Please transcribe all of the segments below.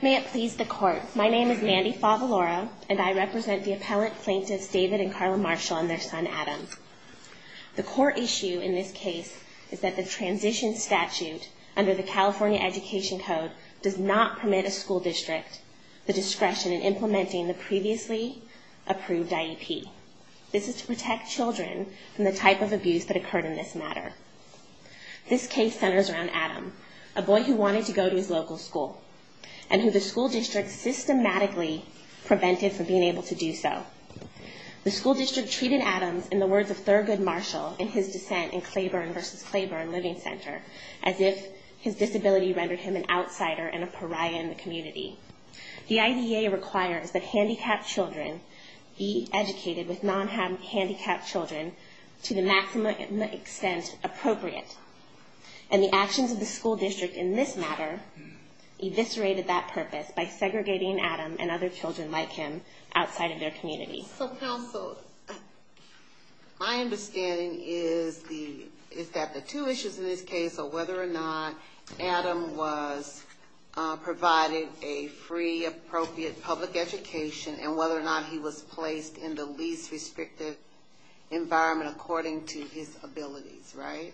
May it please the Court, my name is Mandy Favalora, and I represent the appellant plaintiffs David and Carla Marshall and their son Adam. The core issue in this case is that the transition statute under the California Education Code does not permit a school district the discretion in implementing the previously approved IEP. This is to protect children from the type of abuse that occurred in this matter. This case centers around Adam, a boy who wanted to go to his local school, and who the school district systematically prevented from being able to do so. The school district treated Adam in the words of Thurgood Marshall in his dissent in Claiborne v. Claiborne Living Center, as if his disability rendered him an outsider and a pariah in the community. The IDEA requires that handicapped children be educated with non-handicapped children to the maximum extent appropriate. And the actions of the school district in this matter eviscerated that purpose by segregating Adam and other children like him outside of their community. So counsel, my understanding is that the two issues in this case are whether or not Adam was provided a free appropriate public education and whether or not he was placed in the least restrictive environment according to his abilities, right?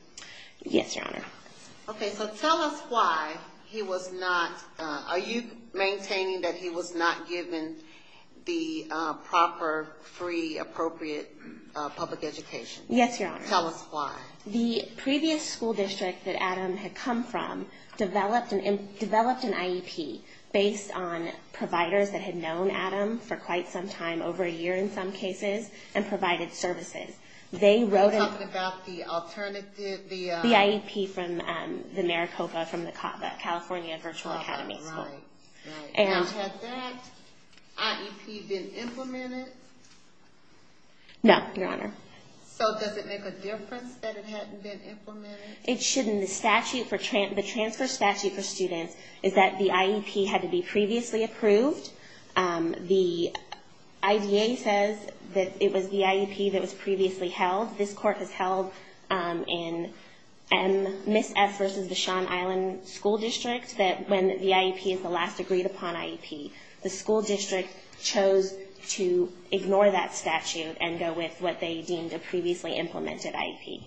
Yes, your honor. Okay, so tell us why he was not, are you maintaining that he was not given the proper free appropriate public education? Yes, your honor. Tell us why. The previous school district that Adam had come from developed an IEP based on providers that had known Adam for quite some time, over a year in some cases, and provided services. You're talking about the alternative? The IEP from the Maricopa, California Virtual Academy School. And had that IEP been implemented? No, your honor. So does it make a difference that it hadn't been implemented? It shouldn't. The transfer statute for students is that the IEP had to be previously approved. The IDA says that it was the IEP that was previously held. This court has held in Ms. F. versus the Shawn Island School District that when the IEP is the last agreed upon IEP, the school district chose to ignore that statute and go with what they deemed a previously implemented IEP.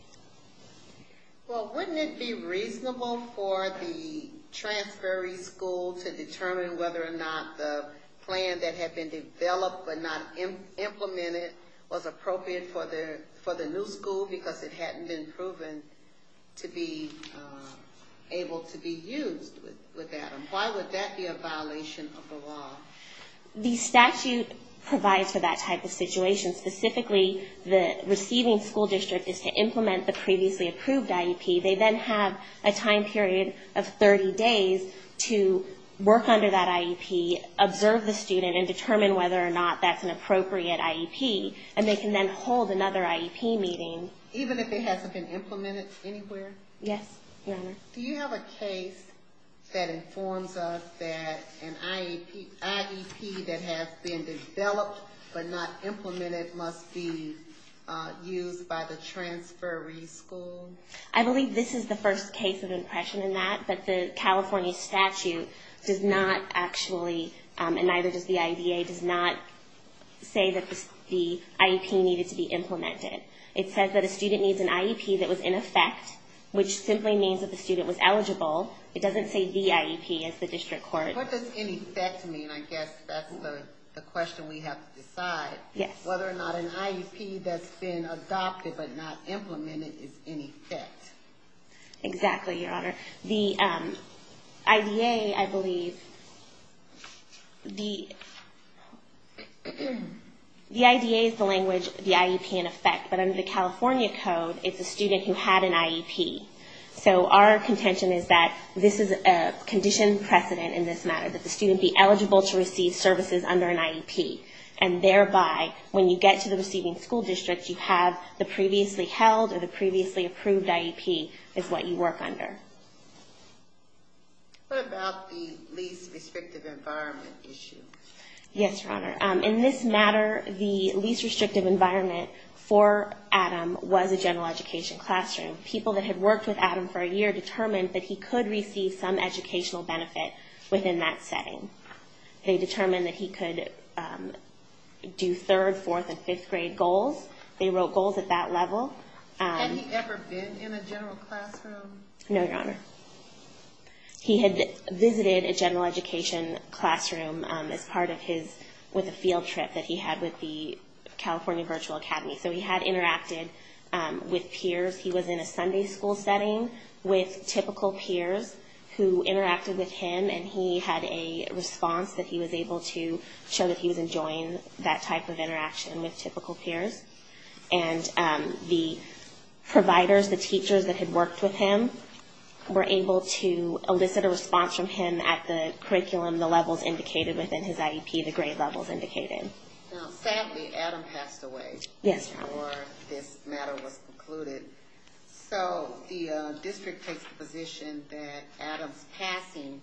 Well, wouldn't it be reasonable for the transferring school to determine whether or not the plan that had been developed but not implemented was appropriate for the new school because it hadn't been proven to be able to be used with Adam? Why would that be a violation of the law? The statute provides for that type of situation. Specifically, the receiving school district is to implement the previously approved IEP. They then have a time period of 30 days to work under that IEP, observe the student, and determine whether or not that's an appropriate IEP. And they can then hold another IEP meeting. Even if it hasn't been implemented anywhere? Yes, your honor. Do you have a case that informs us that an IEP that has been developed but not implemented must be used by the transferee school? I believe this is the first case of impression in that. But the California statute does not actually, and neither does the IDA, does not say that the IEP needed to be implemented. It says that a student needs an IEP that was in effect, which simply means that the student was eligible. It doesn't say the IEP as the district court. What does in effect mean? I guess that's the question we have to decide. Yes. Whether or not an IEP that's been adopted but not implemented is in effect. Exactly, your honor. The IDA, I believe, the IDA is the language, the IEP in effect. But under the California code, it's a student who had an IEP. So our contention is that this is a condition precedent in this matter, that the student be eligible to receive services under an IEP. And thereby, when you get to the receiving school district, you have the previously held or the previously approved IEP is what you work under. What about the least restrictive environment issue? Yes, your honor. In this matter, the least restrictive environment for Adam was a general education classroom. People that had worked with Adam for a year determined that he could receive some educational benefit within that setting. They determined that he could do third, fourth, and fifth grade goals. They wrote goals at that level. Had he ever been in a general classroom? No, your honor. He had visited a general education classroom as part of his, with a field trip that he had with the California Virtual Academy. So he had interacted with peers. He was in a Sunday school setting with typical peers who interacted with him. And he had a response that he was able to show that he was enjoying that type of interaction with typical peers. And the providers, the teachers that had worked with him, were able to elicit a response from him at the curriculum, the levels indicated within his IEP, the grade levels indicated. Now, sadly, Adam passed away before this matter was concluded. So the district takes the position that Adam's passing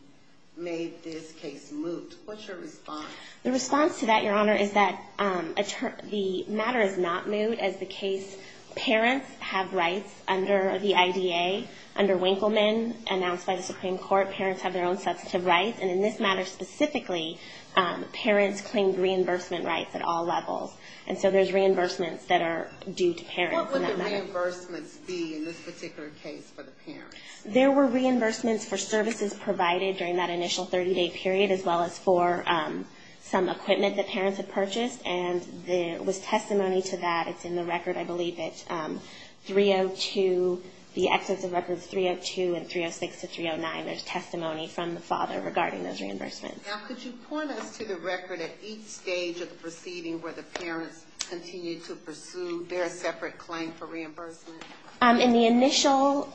made this case moot. What's your response? The response to that, your honor, is that the matter is not moot. As the case, parents have rights under the IDA. Under Winkleman, announced by the Supreme Court, parents have their own substantive rights. And in this matter specifically, parents claimed reimbursement rights at all levels. And so there's reimbursements that are due to parents in that matter. What would the reimbursements be in this particular case for the parents? There were reimbursements for services provided during that initial 30-day period, as well as for some equipment that parents had purchased. And there was testimony to that. It's in the record, I believe it's 302, the excess of records 302 and 306 to 309. And there's testimony from the father regarding those reimbursements. Now, could you point us to the record at each stage of the proceeding where the parents continued to pursue their separate claim for reimbursement? In the initial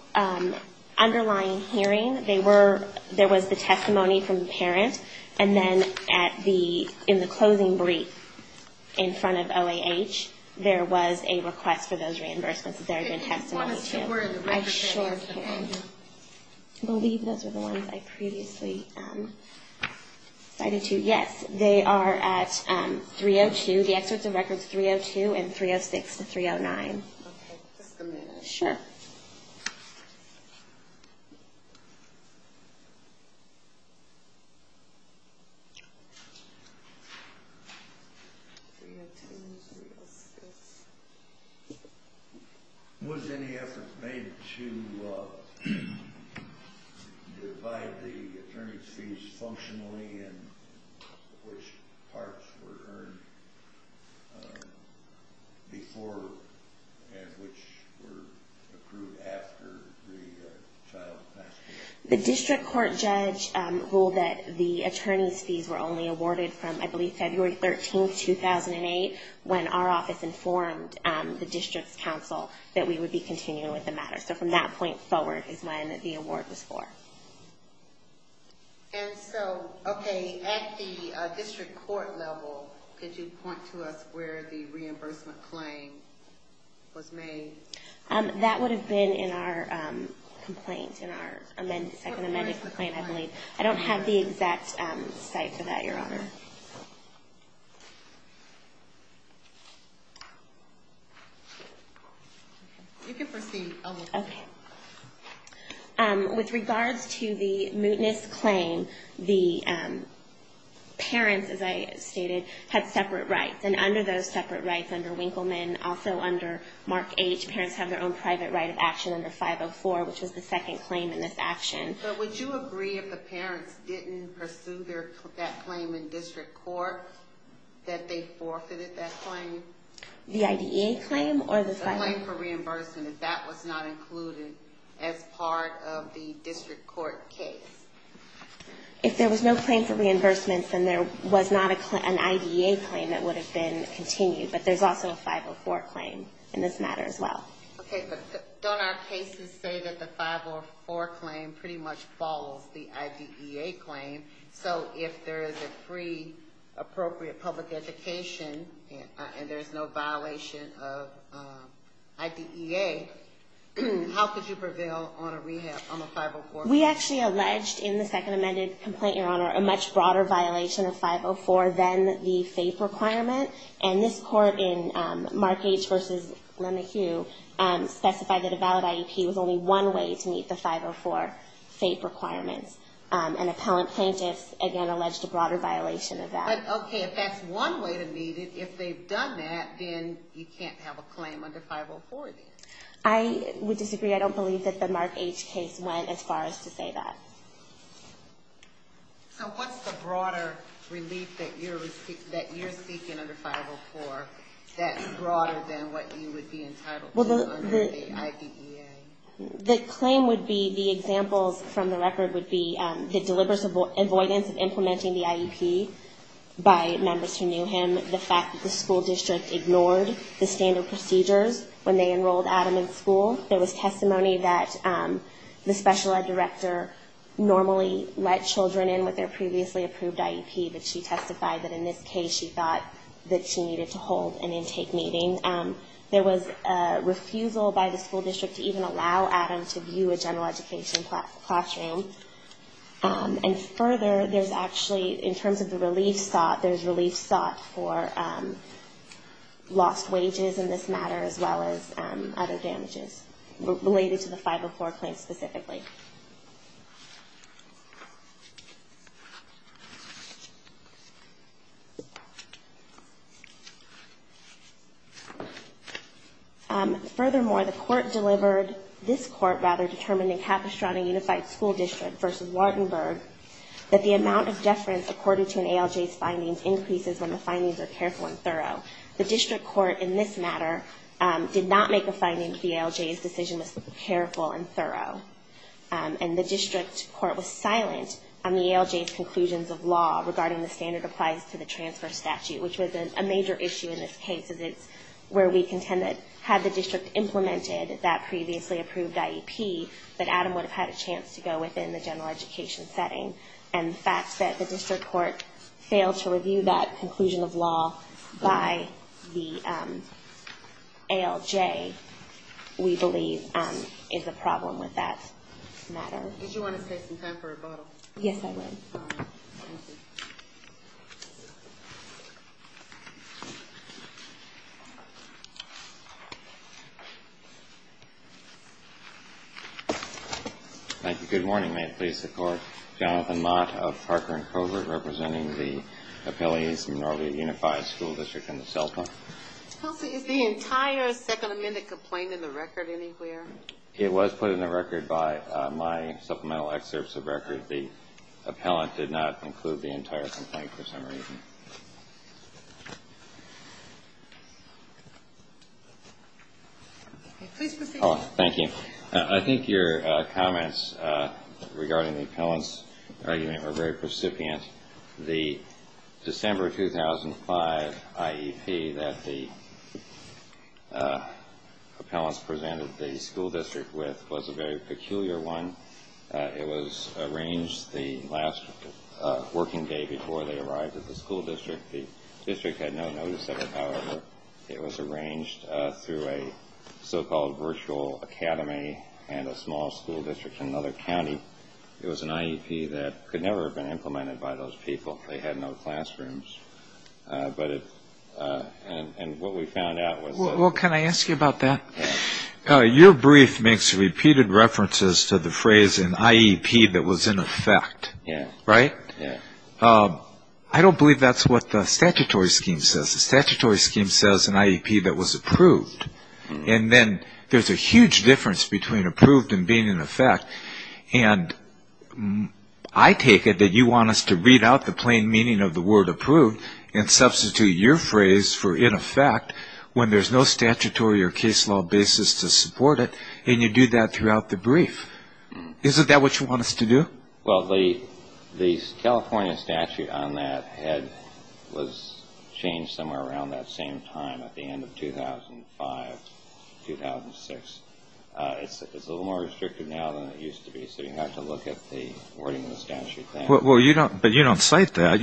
underlying hearing, there was the testimony from the parent. And then in the closing brief in front of OAH, there was a request for those reimbursements. I believe those are the ones I previously cited to you. Yes, they are at 302, the excess of records 302 and 306 to 309. Okay, just a minute. Sure. Was any effort made to divide the attorney's fees functionally in which parts were earned before and which were approved after the child passed away? The district court judge ruled that the attorney's fees were only awarded from, I believe, February 13, 2008, when our office informed the district's counsel that we would be continuing with the matter. So from that point forward is when the award was for. And so, okay, at the district court level, could you point to us where the reimbursement claim was made? That would have been in our complaint, in our second amended complaint, I believe. I don't have the exact site for that, Your Honor. You can proceed. Okay. With regards to the mootness claim, the parents, as I stated, had separate rights. And under those separate rights, under Winkleman, also under Mark 8, parents have their own private right of action under 504, which was the second claim in this action. But would you agree if the parents didn't pursue that claim in district court, that they forfeited that claim? The IDEA claim or the 504? The claim for reimbursement, if that was not included as part of the district court case. If there was no claim for reimbursement, then there was not an IDEA claim that would have been continued, but there's also a 504 claim in this matter as well. Okay, but don't our cases say that the 504 claim pretty much follows the IDEA claim? So if there is a free, appropriate public education and there's no violation of IDEA, how could you prevail on a 504? We actually alleged in the second amended complaint, Your Honor, a much broader violation of 504 than the FAPE requirement. And this court in Mark H. v. Lenahue specified that a valid IEP was only one way to meet the 504 FAPE requirements. And appellant plaintiffs, again, alleged a broader violation of that. But, okay, if that's one way to meet it, if they've done that, then you can't have a claim under 504 then. I would disagree. I don't believe that the Mark H. case went as far as to say that. So what's the broader relief that you're seeking under 504 that's broader than what you would be entitled to under the IDEA? The claim would be, the examples from the record would be the deliberate avoidance of implementing the IEP by members who knew him, the fact that the school district ignored the standard procedures when they enrolled Adam in school. There was testimony that the special ed director normally let children in with their previously approved IEP, but she testified that in this case she thought that she needed to hold an intake meeting. There was a refusal by the school district to even allow Adam to view a general education classroom. And further, there's actually, in terms of the relief sought, there's relief sought for lost wages in this matter as well as other damages related to the 504 claim specifically. Furthermore, the court delivered, this court rather, determined in Capistrano Unified School District v. Wardenburg, that the amount of deference according to an ALJ's findings increases when the findings are careful and thorough. The district court in this matter did not make a finding that the ALJ's decision was careful and thorough. And the district court was silent on the ALJ's conclusions of law regarding the standard applies to the transfer statute, which was a major issue in this case, as it's where we contend that had the district implemented that previously approved IEP, that Adam would have had a chance to go within the general education setting. And the fact that the district court failed to review that conclusion of law by the ALJ, we believe, is a problem with that matter. Did you want to take some time for rebuttal? Yes, I would. Thank you. Good morning. May it please the Court. Jonathan Mott of Parker and Covert, representing the appellees of the Minervia Unified School District in the cell phone. Is the entire Second Amendment complaint in the record anywhere? It was put in the record by my supplemental excerpts of record. The appellant did not include the entire complaint for some reason. Please proceed. Thank you. I think your comments regarding the appellant's argument were very precipient. The December 2005 IEP that the appellants presented the school district with was a very peculiar one. It was arranged the last working day before they arrived at the school district. The district had no notice of it. However, it was arranged through a so-called virtual academy and a small school district in another county. It was an IEP that could never have been implemented by those people. They had no classrooms. And what we found out was that- Well, can I ask you about that? Your brief makes repeated references to the phrase, an IEP that was in effect, right? Yes. I don't believe that's what the statutory scheme says. The statutory scheme says an IEP that was approved. And then there's a huge difference between approved and being in effect. And I take it that you want us to read out the plain meaning of the word approved and substitute your phrase for in effect when there's no statutory or case law basis to support it, and you do that throughout the brief. Isn't that what you want us to do? Well, the California statute on that was changed somewhere around that same time at the end of 2005, 2006. It's a little more restrictive now than it used to be, so you have to look at the wording of the statute there. But you don't cite that.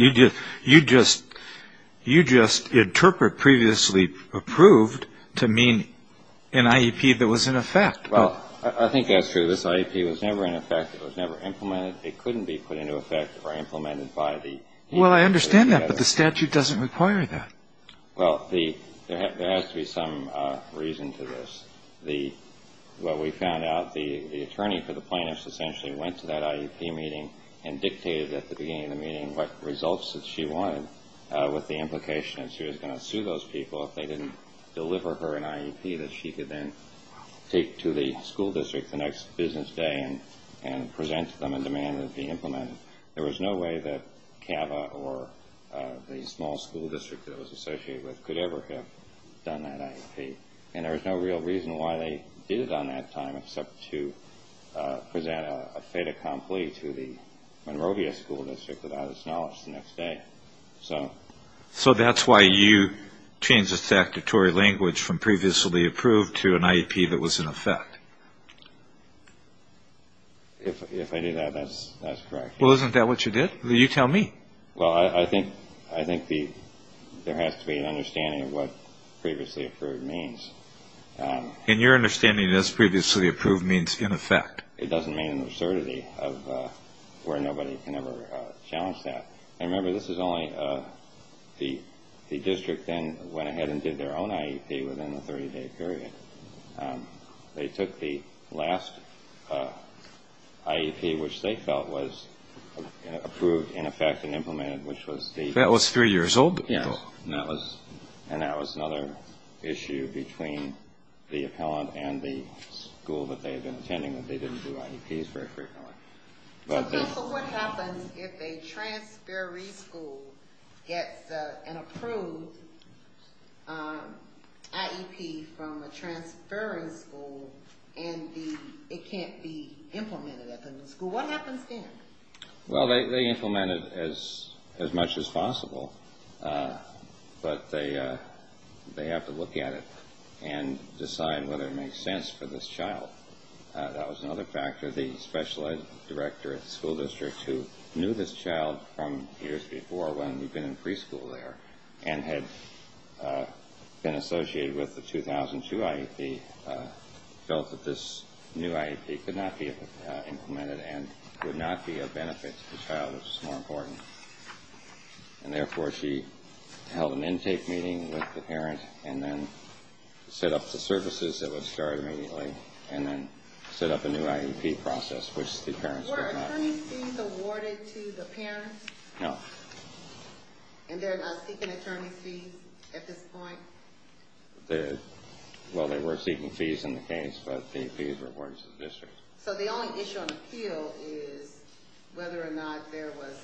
You just interpret previously approved to mean an IEP that was in effect. Well, I think that's true. This IEP was never in effect. It was never implemented. It couldn't be put into effect or implemented by the EU. Well, I understand that, but the statute doesn't require that. Well, there has to be some reason to this. Well, we found out the attorney for the plaintiffs essentially went to that IEP meeting and dictated at the beginning of the meeting what results that she wanted with the implication that she was going to sue those people if they didn't deliver her an IEP that she could then take to the school district the next business day and present to them and demand it be implemented. There was no way that CAVA or the small school district that it was associated with could ever have done that IEP. And there was no real reason why they did it on that time except to present a fait accompli to the Monrovia School District without its knowledge the next day. So that's why you changed the statutory language from previously approved to an IEP that was in effect. If I did that, that's correct. Well, isn't that what you did? You tell me. Well, I think there has to be an understanding of what previously approved means. And your understanding as previously approved means in effect. It doesn't mean an absurdity of where nobody can ever challenge that. And remember, this is only the district then went ahead and did their own IEP within a 30-day period. They took the last IEP, which they felt was approved in effect and implemented, which was the- That was three years old? Yes. And that was another issue between the appellant and the school that they had been attending. They didn't do IEPs very frequently. So what happens if a transferee school gets an approved IEP from a transferring school and it can't be implemented at the new school? What happens then? Well, they implement it as much as possible, but they have to look at it and decide whether it makes sense for this child. That was another factor. The special ed director at the school district, who knew this child from years before when we'd been in preschool there and had been associated with the 2002 IEP, felt that this new IEP could not be implemented and would not be of benefit to the child. It was more important. And therefore, she held an intake meeting with the parent and then set up the services that would start immediately and then set up a new IEP process, which the parents did not- Were attorney's fees awarded to the parents? No. And they're not seeking attorney's fees at this point? Well, they were seeking fees in the case, but the fees were awarded to the district. So the only issue on appeal is whether or not there was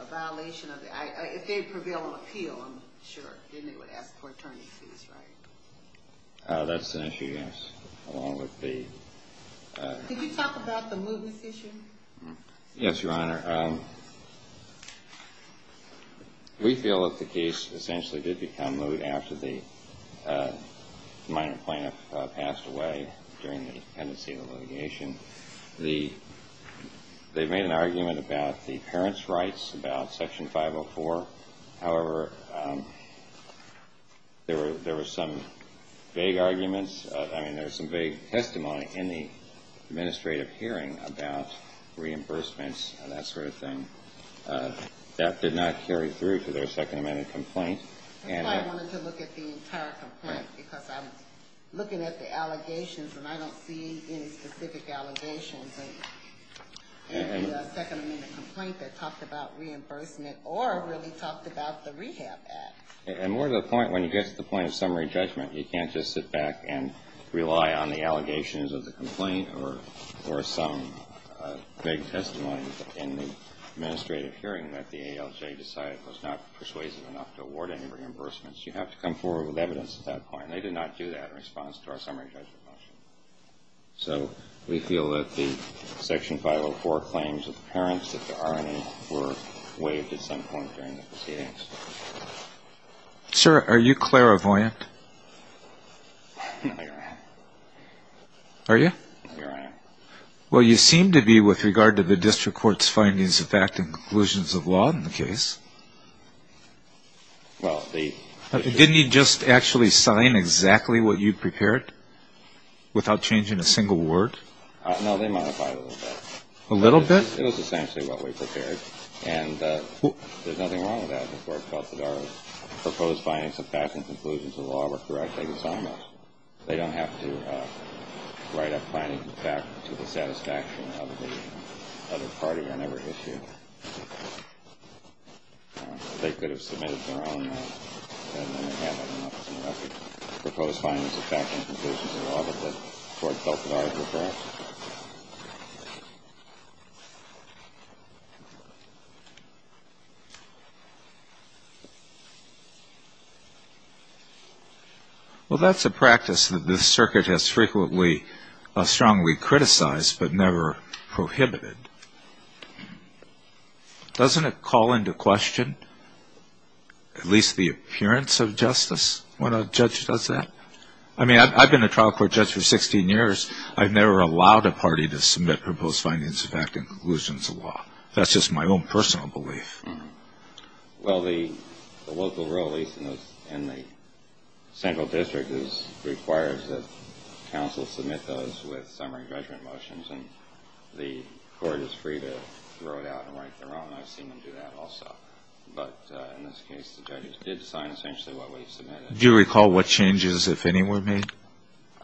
a violation of the- If they prevail on appeal, I'm sure, then they would ask for attorney's fees, right? That's an issue, yes, along with the- Could you talk about the mootness issue? Yes, Your Honor. Your Honor, we feel that the case essentially did become moot after the minor plaintiff passed away during the pendency of the litigation. They made an argument about the parents' rights, about Section 504. However, there were some vague arguments. I mean, there was some vague testimony in the administrative hearing about reimbursements and that sort of thing. That did not carry through to their Second Amendment complaint. That's why I wanted to look at the entire complaint, because I'm looking at the allegations and I don't see any specific allegations in the Second Amendment complaint that talked about reimbursement or really talked about the Rehab Act. And more to the point, when you get to the point of summary judgment, you can't just sit back and rely on the allegations of the complaint or some vague testimony in the administrative hearing that the ALJ decided was not persuasive enough to award any reimbursements. You have to come forward with evidence at that point. They did not do that in response to our summary judgment motion. So we feel that the Section 504 claims of the parents, that there are any, were waived at some point during the proceedings. Sir, are you clairvoyant? No, I'm not. Are you? No, I'm not. Well, you seem to be with regard to the district court's findings of fact and conclusions of law in the case. Didn't you just actually sign exactly what you prepared without changing a single word? No, they modified it a little bit. A little bit? It was essentially what we prepared. And there's nothing wrong with that. The court felt that our proposed findings of fact and conclusions of law were correct. They could sign those. They don't have to write up findings of fact to the satisfaction of the other party on every issue. They could have submitted their own. And then again, I don't know if it's in the record. Proposed findings of fact and conclusions of law that the court felt were correct. Well, that's a practice that the circuit has frequently strongly criticized but never prohibited. Doesn't it call into question at least the appearance of justice when a judge does that? I mean, I've been a trial court judge for 16 years. I've never allowed a party to submit proposed findings of fact and conclusions of law. That's just my own personal belief. Well, the local rule, at least in the central district, requires that counsel submit those with summary judgment motions, and the court is free to throw it out and write their own. I've seen them do that also. But in this case, the judges did sign essentially what we submitted. Do you recall what changes, if any, were made?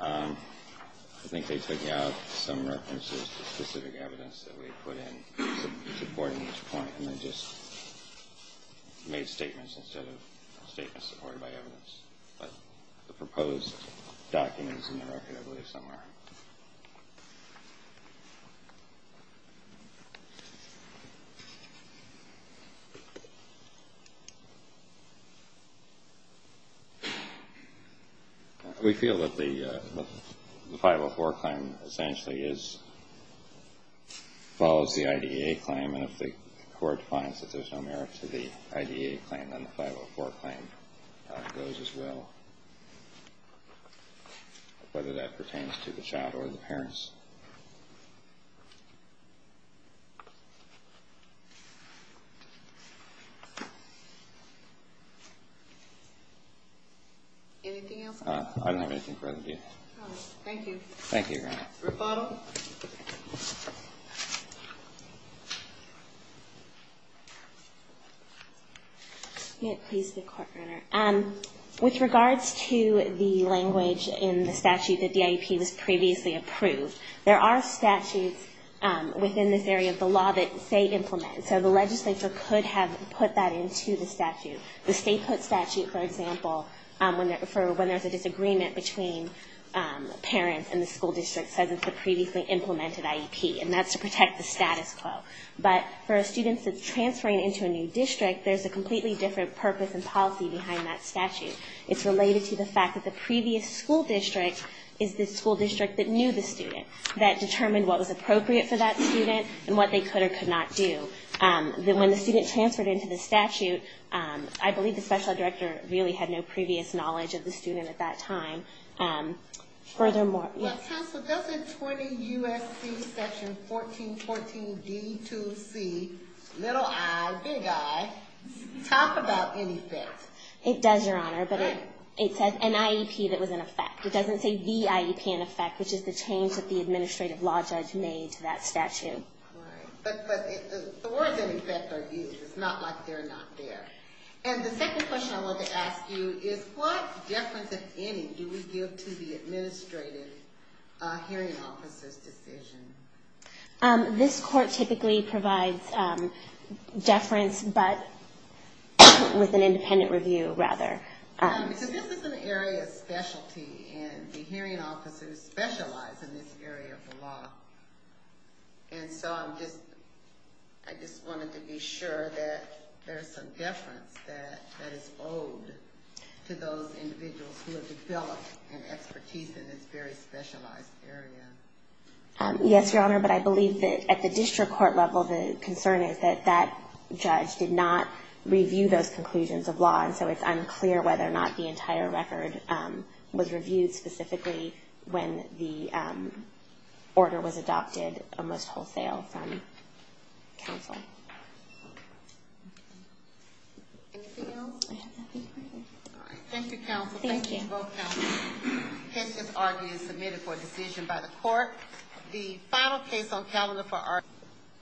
I think they took out some references to specific evidence that we had put in supporting this point, and they just made statements instead of statements supported by evidence. But the proposed document is in the record, I believe, somewhere. We feel that the 504 claim essentially follows the IDEA claim, and if the court finds that there's no merit to the IDEA claim, then the 504 claim goes as well, whether that pertains to the child or the parents. Anything else? I don't have anything further to do. Thank you. Thank you, Your Honor. Rebuttal? May it please the Court, Your Honor? With regards to the language in the statute that the IEP was previously approved, there are statutes within this area of the law that say implement, so the legislature could have put that into the statute. The state put statute, for example, for when there's a disagreement between parents and the school district says it's the previously implemented IEP, and that's to protect the status quo. But for a student that's transferring into a new district, there's a completely different purpose and policy behind that statute. It's related to the fact that the previous school district is the school district that knew the student, that determined what was appropriate for that student and what they could or could not do. When the student transferred into the statute, I believe the special ed director really had no previous knowledge of the student at that time. Counsel, doesn't 20 U.S.C. section 1414D2C, little I, big I, talk about any of that? It does, Your Honor, but it says an IEP that was in effect. It doesn't say the IEP in effect, which is the change that the administrative law judge made to that statute. Right, but the words in effect are used. It's not like they're not there. And the second question I wanted to ask you is, what deference, if any, do we give to the administrative hearing officer's decision? This court typically provides deference, but with an independent review, rather. So this is an area of specialty, and the hearing officers specialize in this area of the law. And so I just wanted to be sure that there's some deference that is owed to those individuals who have developed an expertise in this very specialized area. Yes, Your Honor, but I believe that at the district court level, the concern is that that judge did not review those conclusions of law, and so it's unclear whether or not the entire record was reviewed specifically when the order was adopted, almost wholesale, from counsel. Anything else? I have nothing further. All right. Thank you, counsel. Thank you. Thank you to both counsels. Hence, this argument is submitted for a decision by the court. The final case on calendar for our...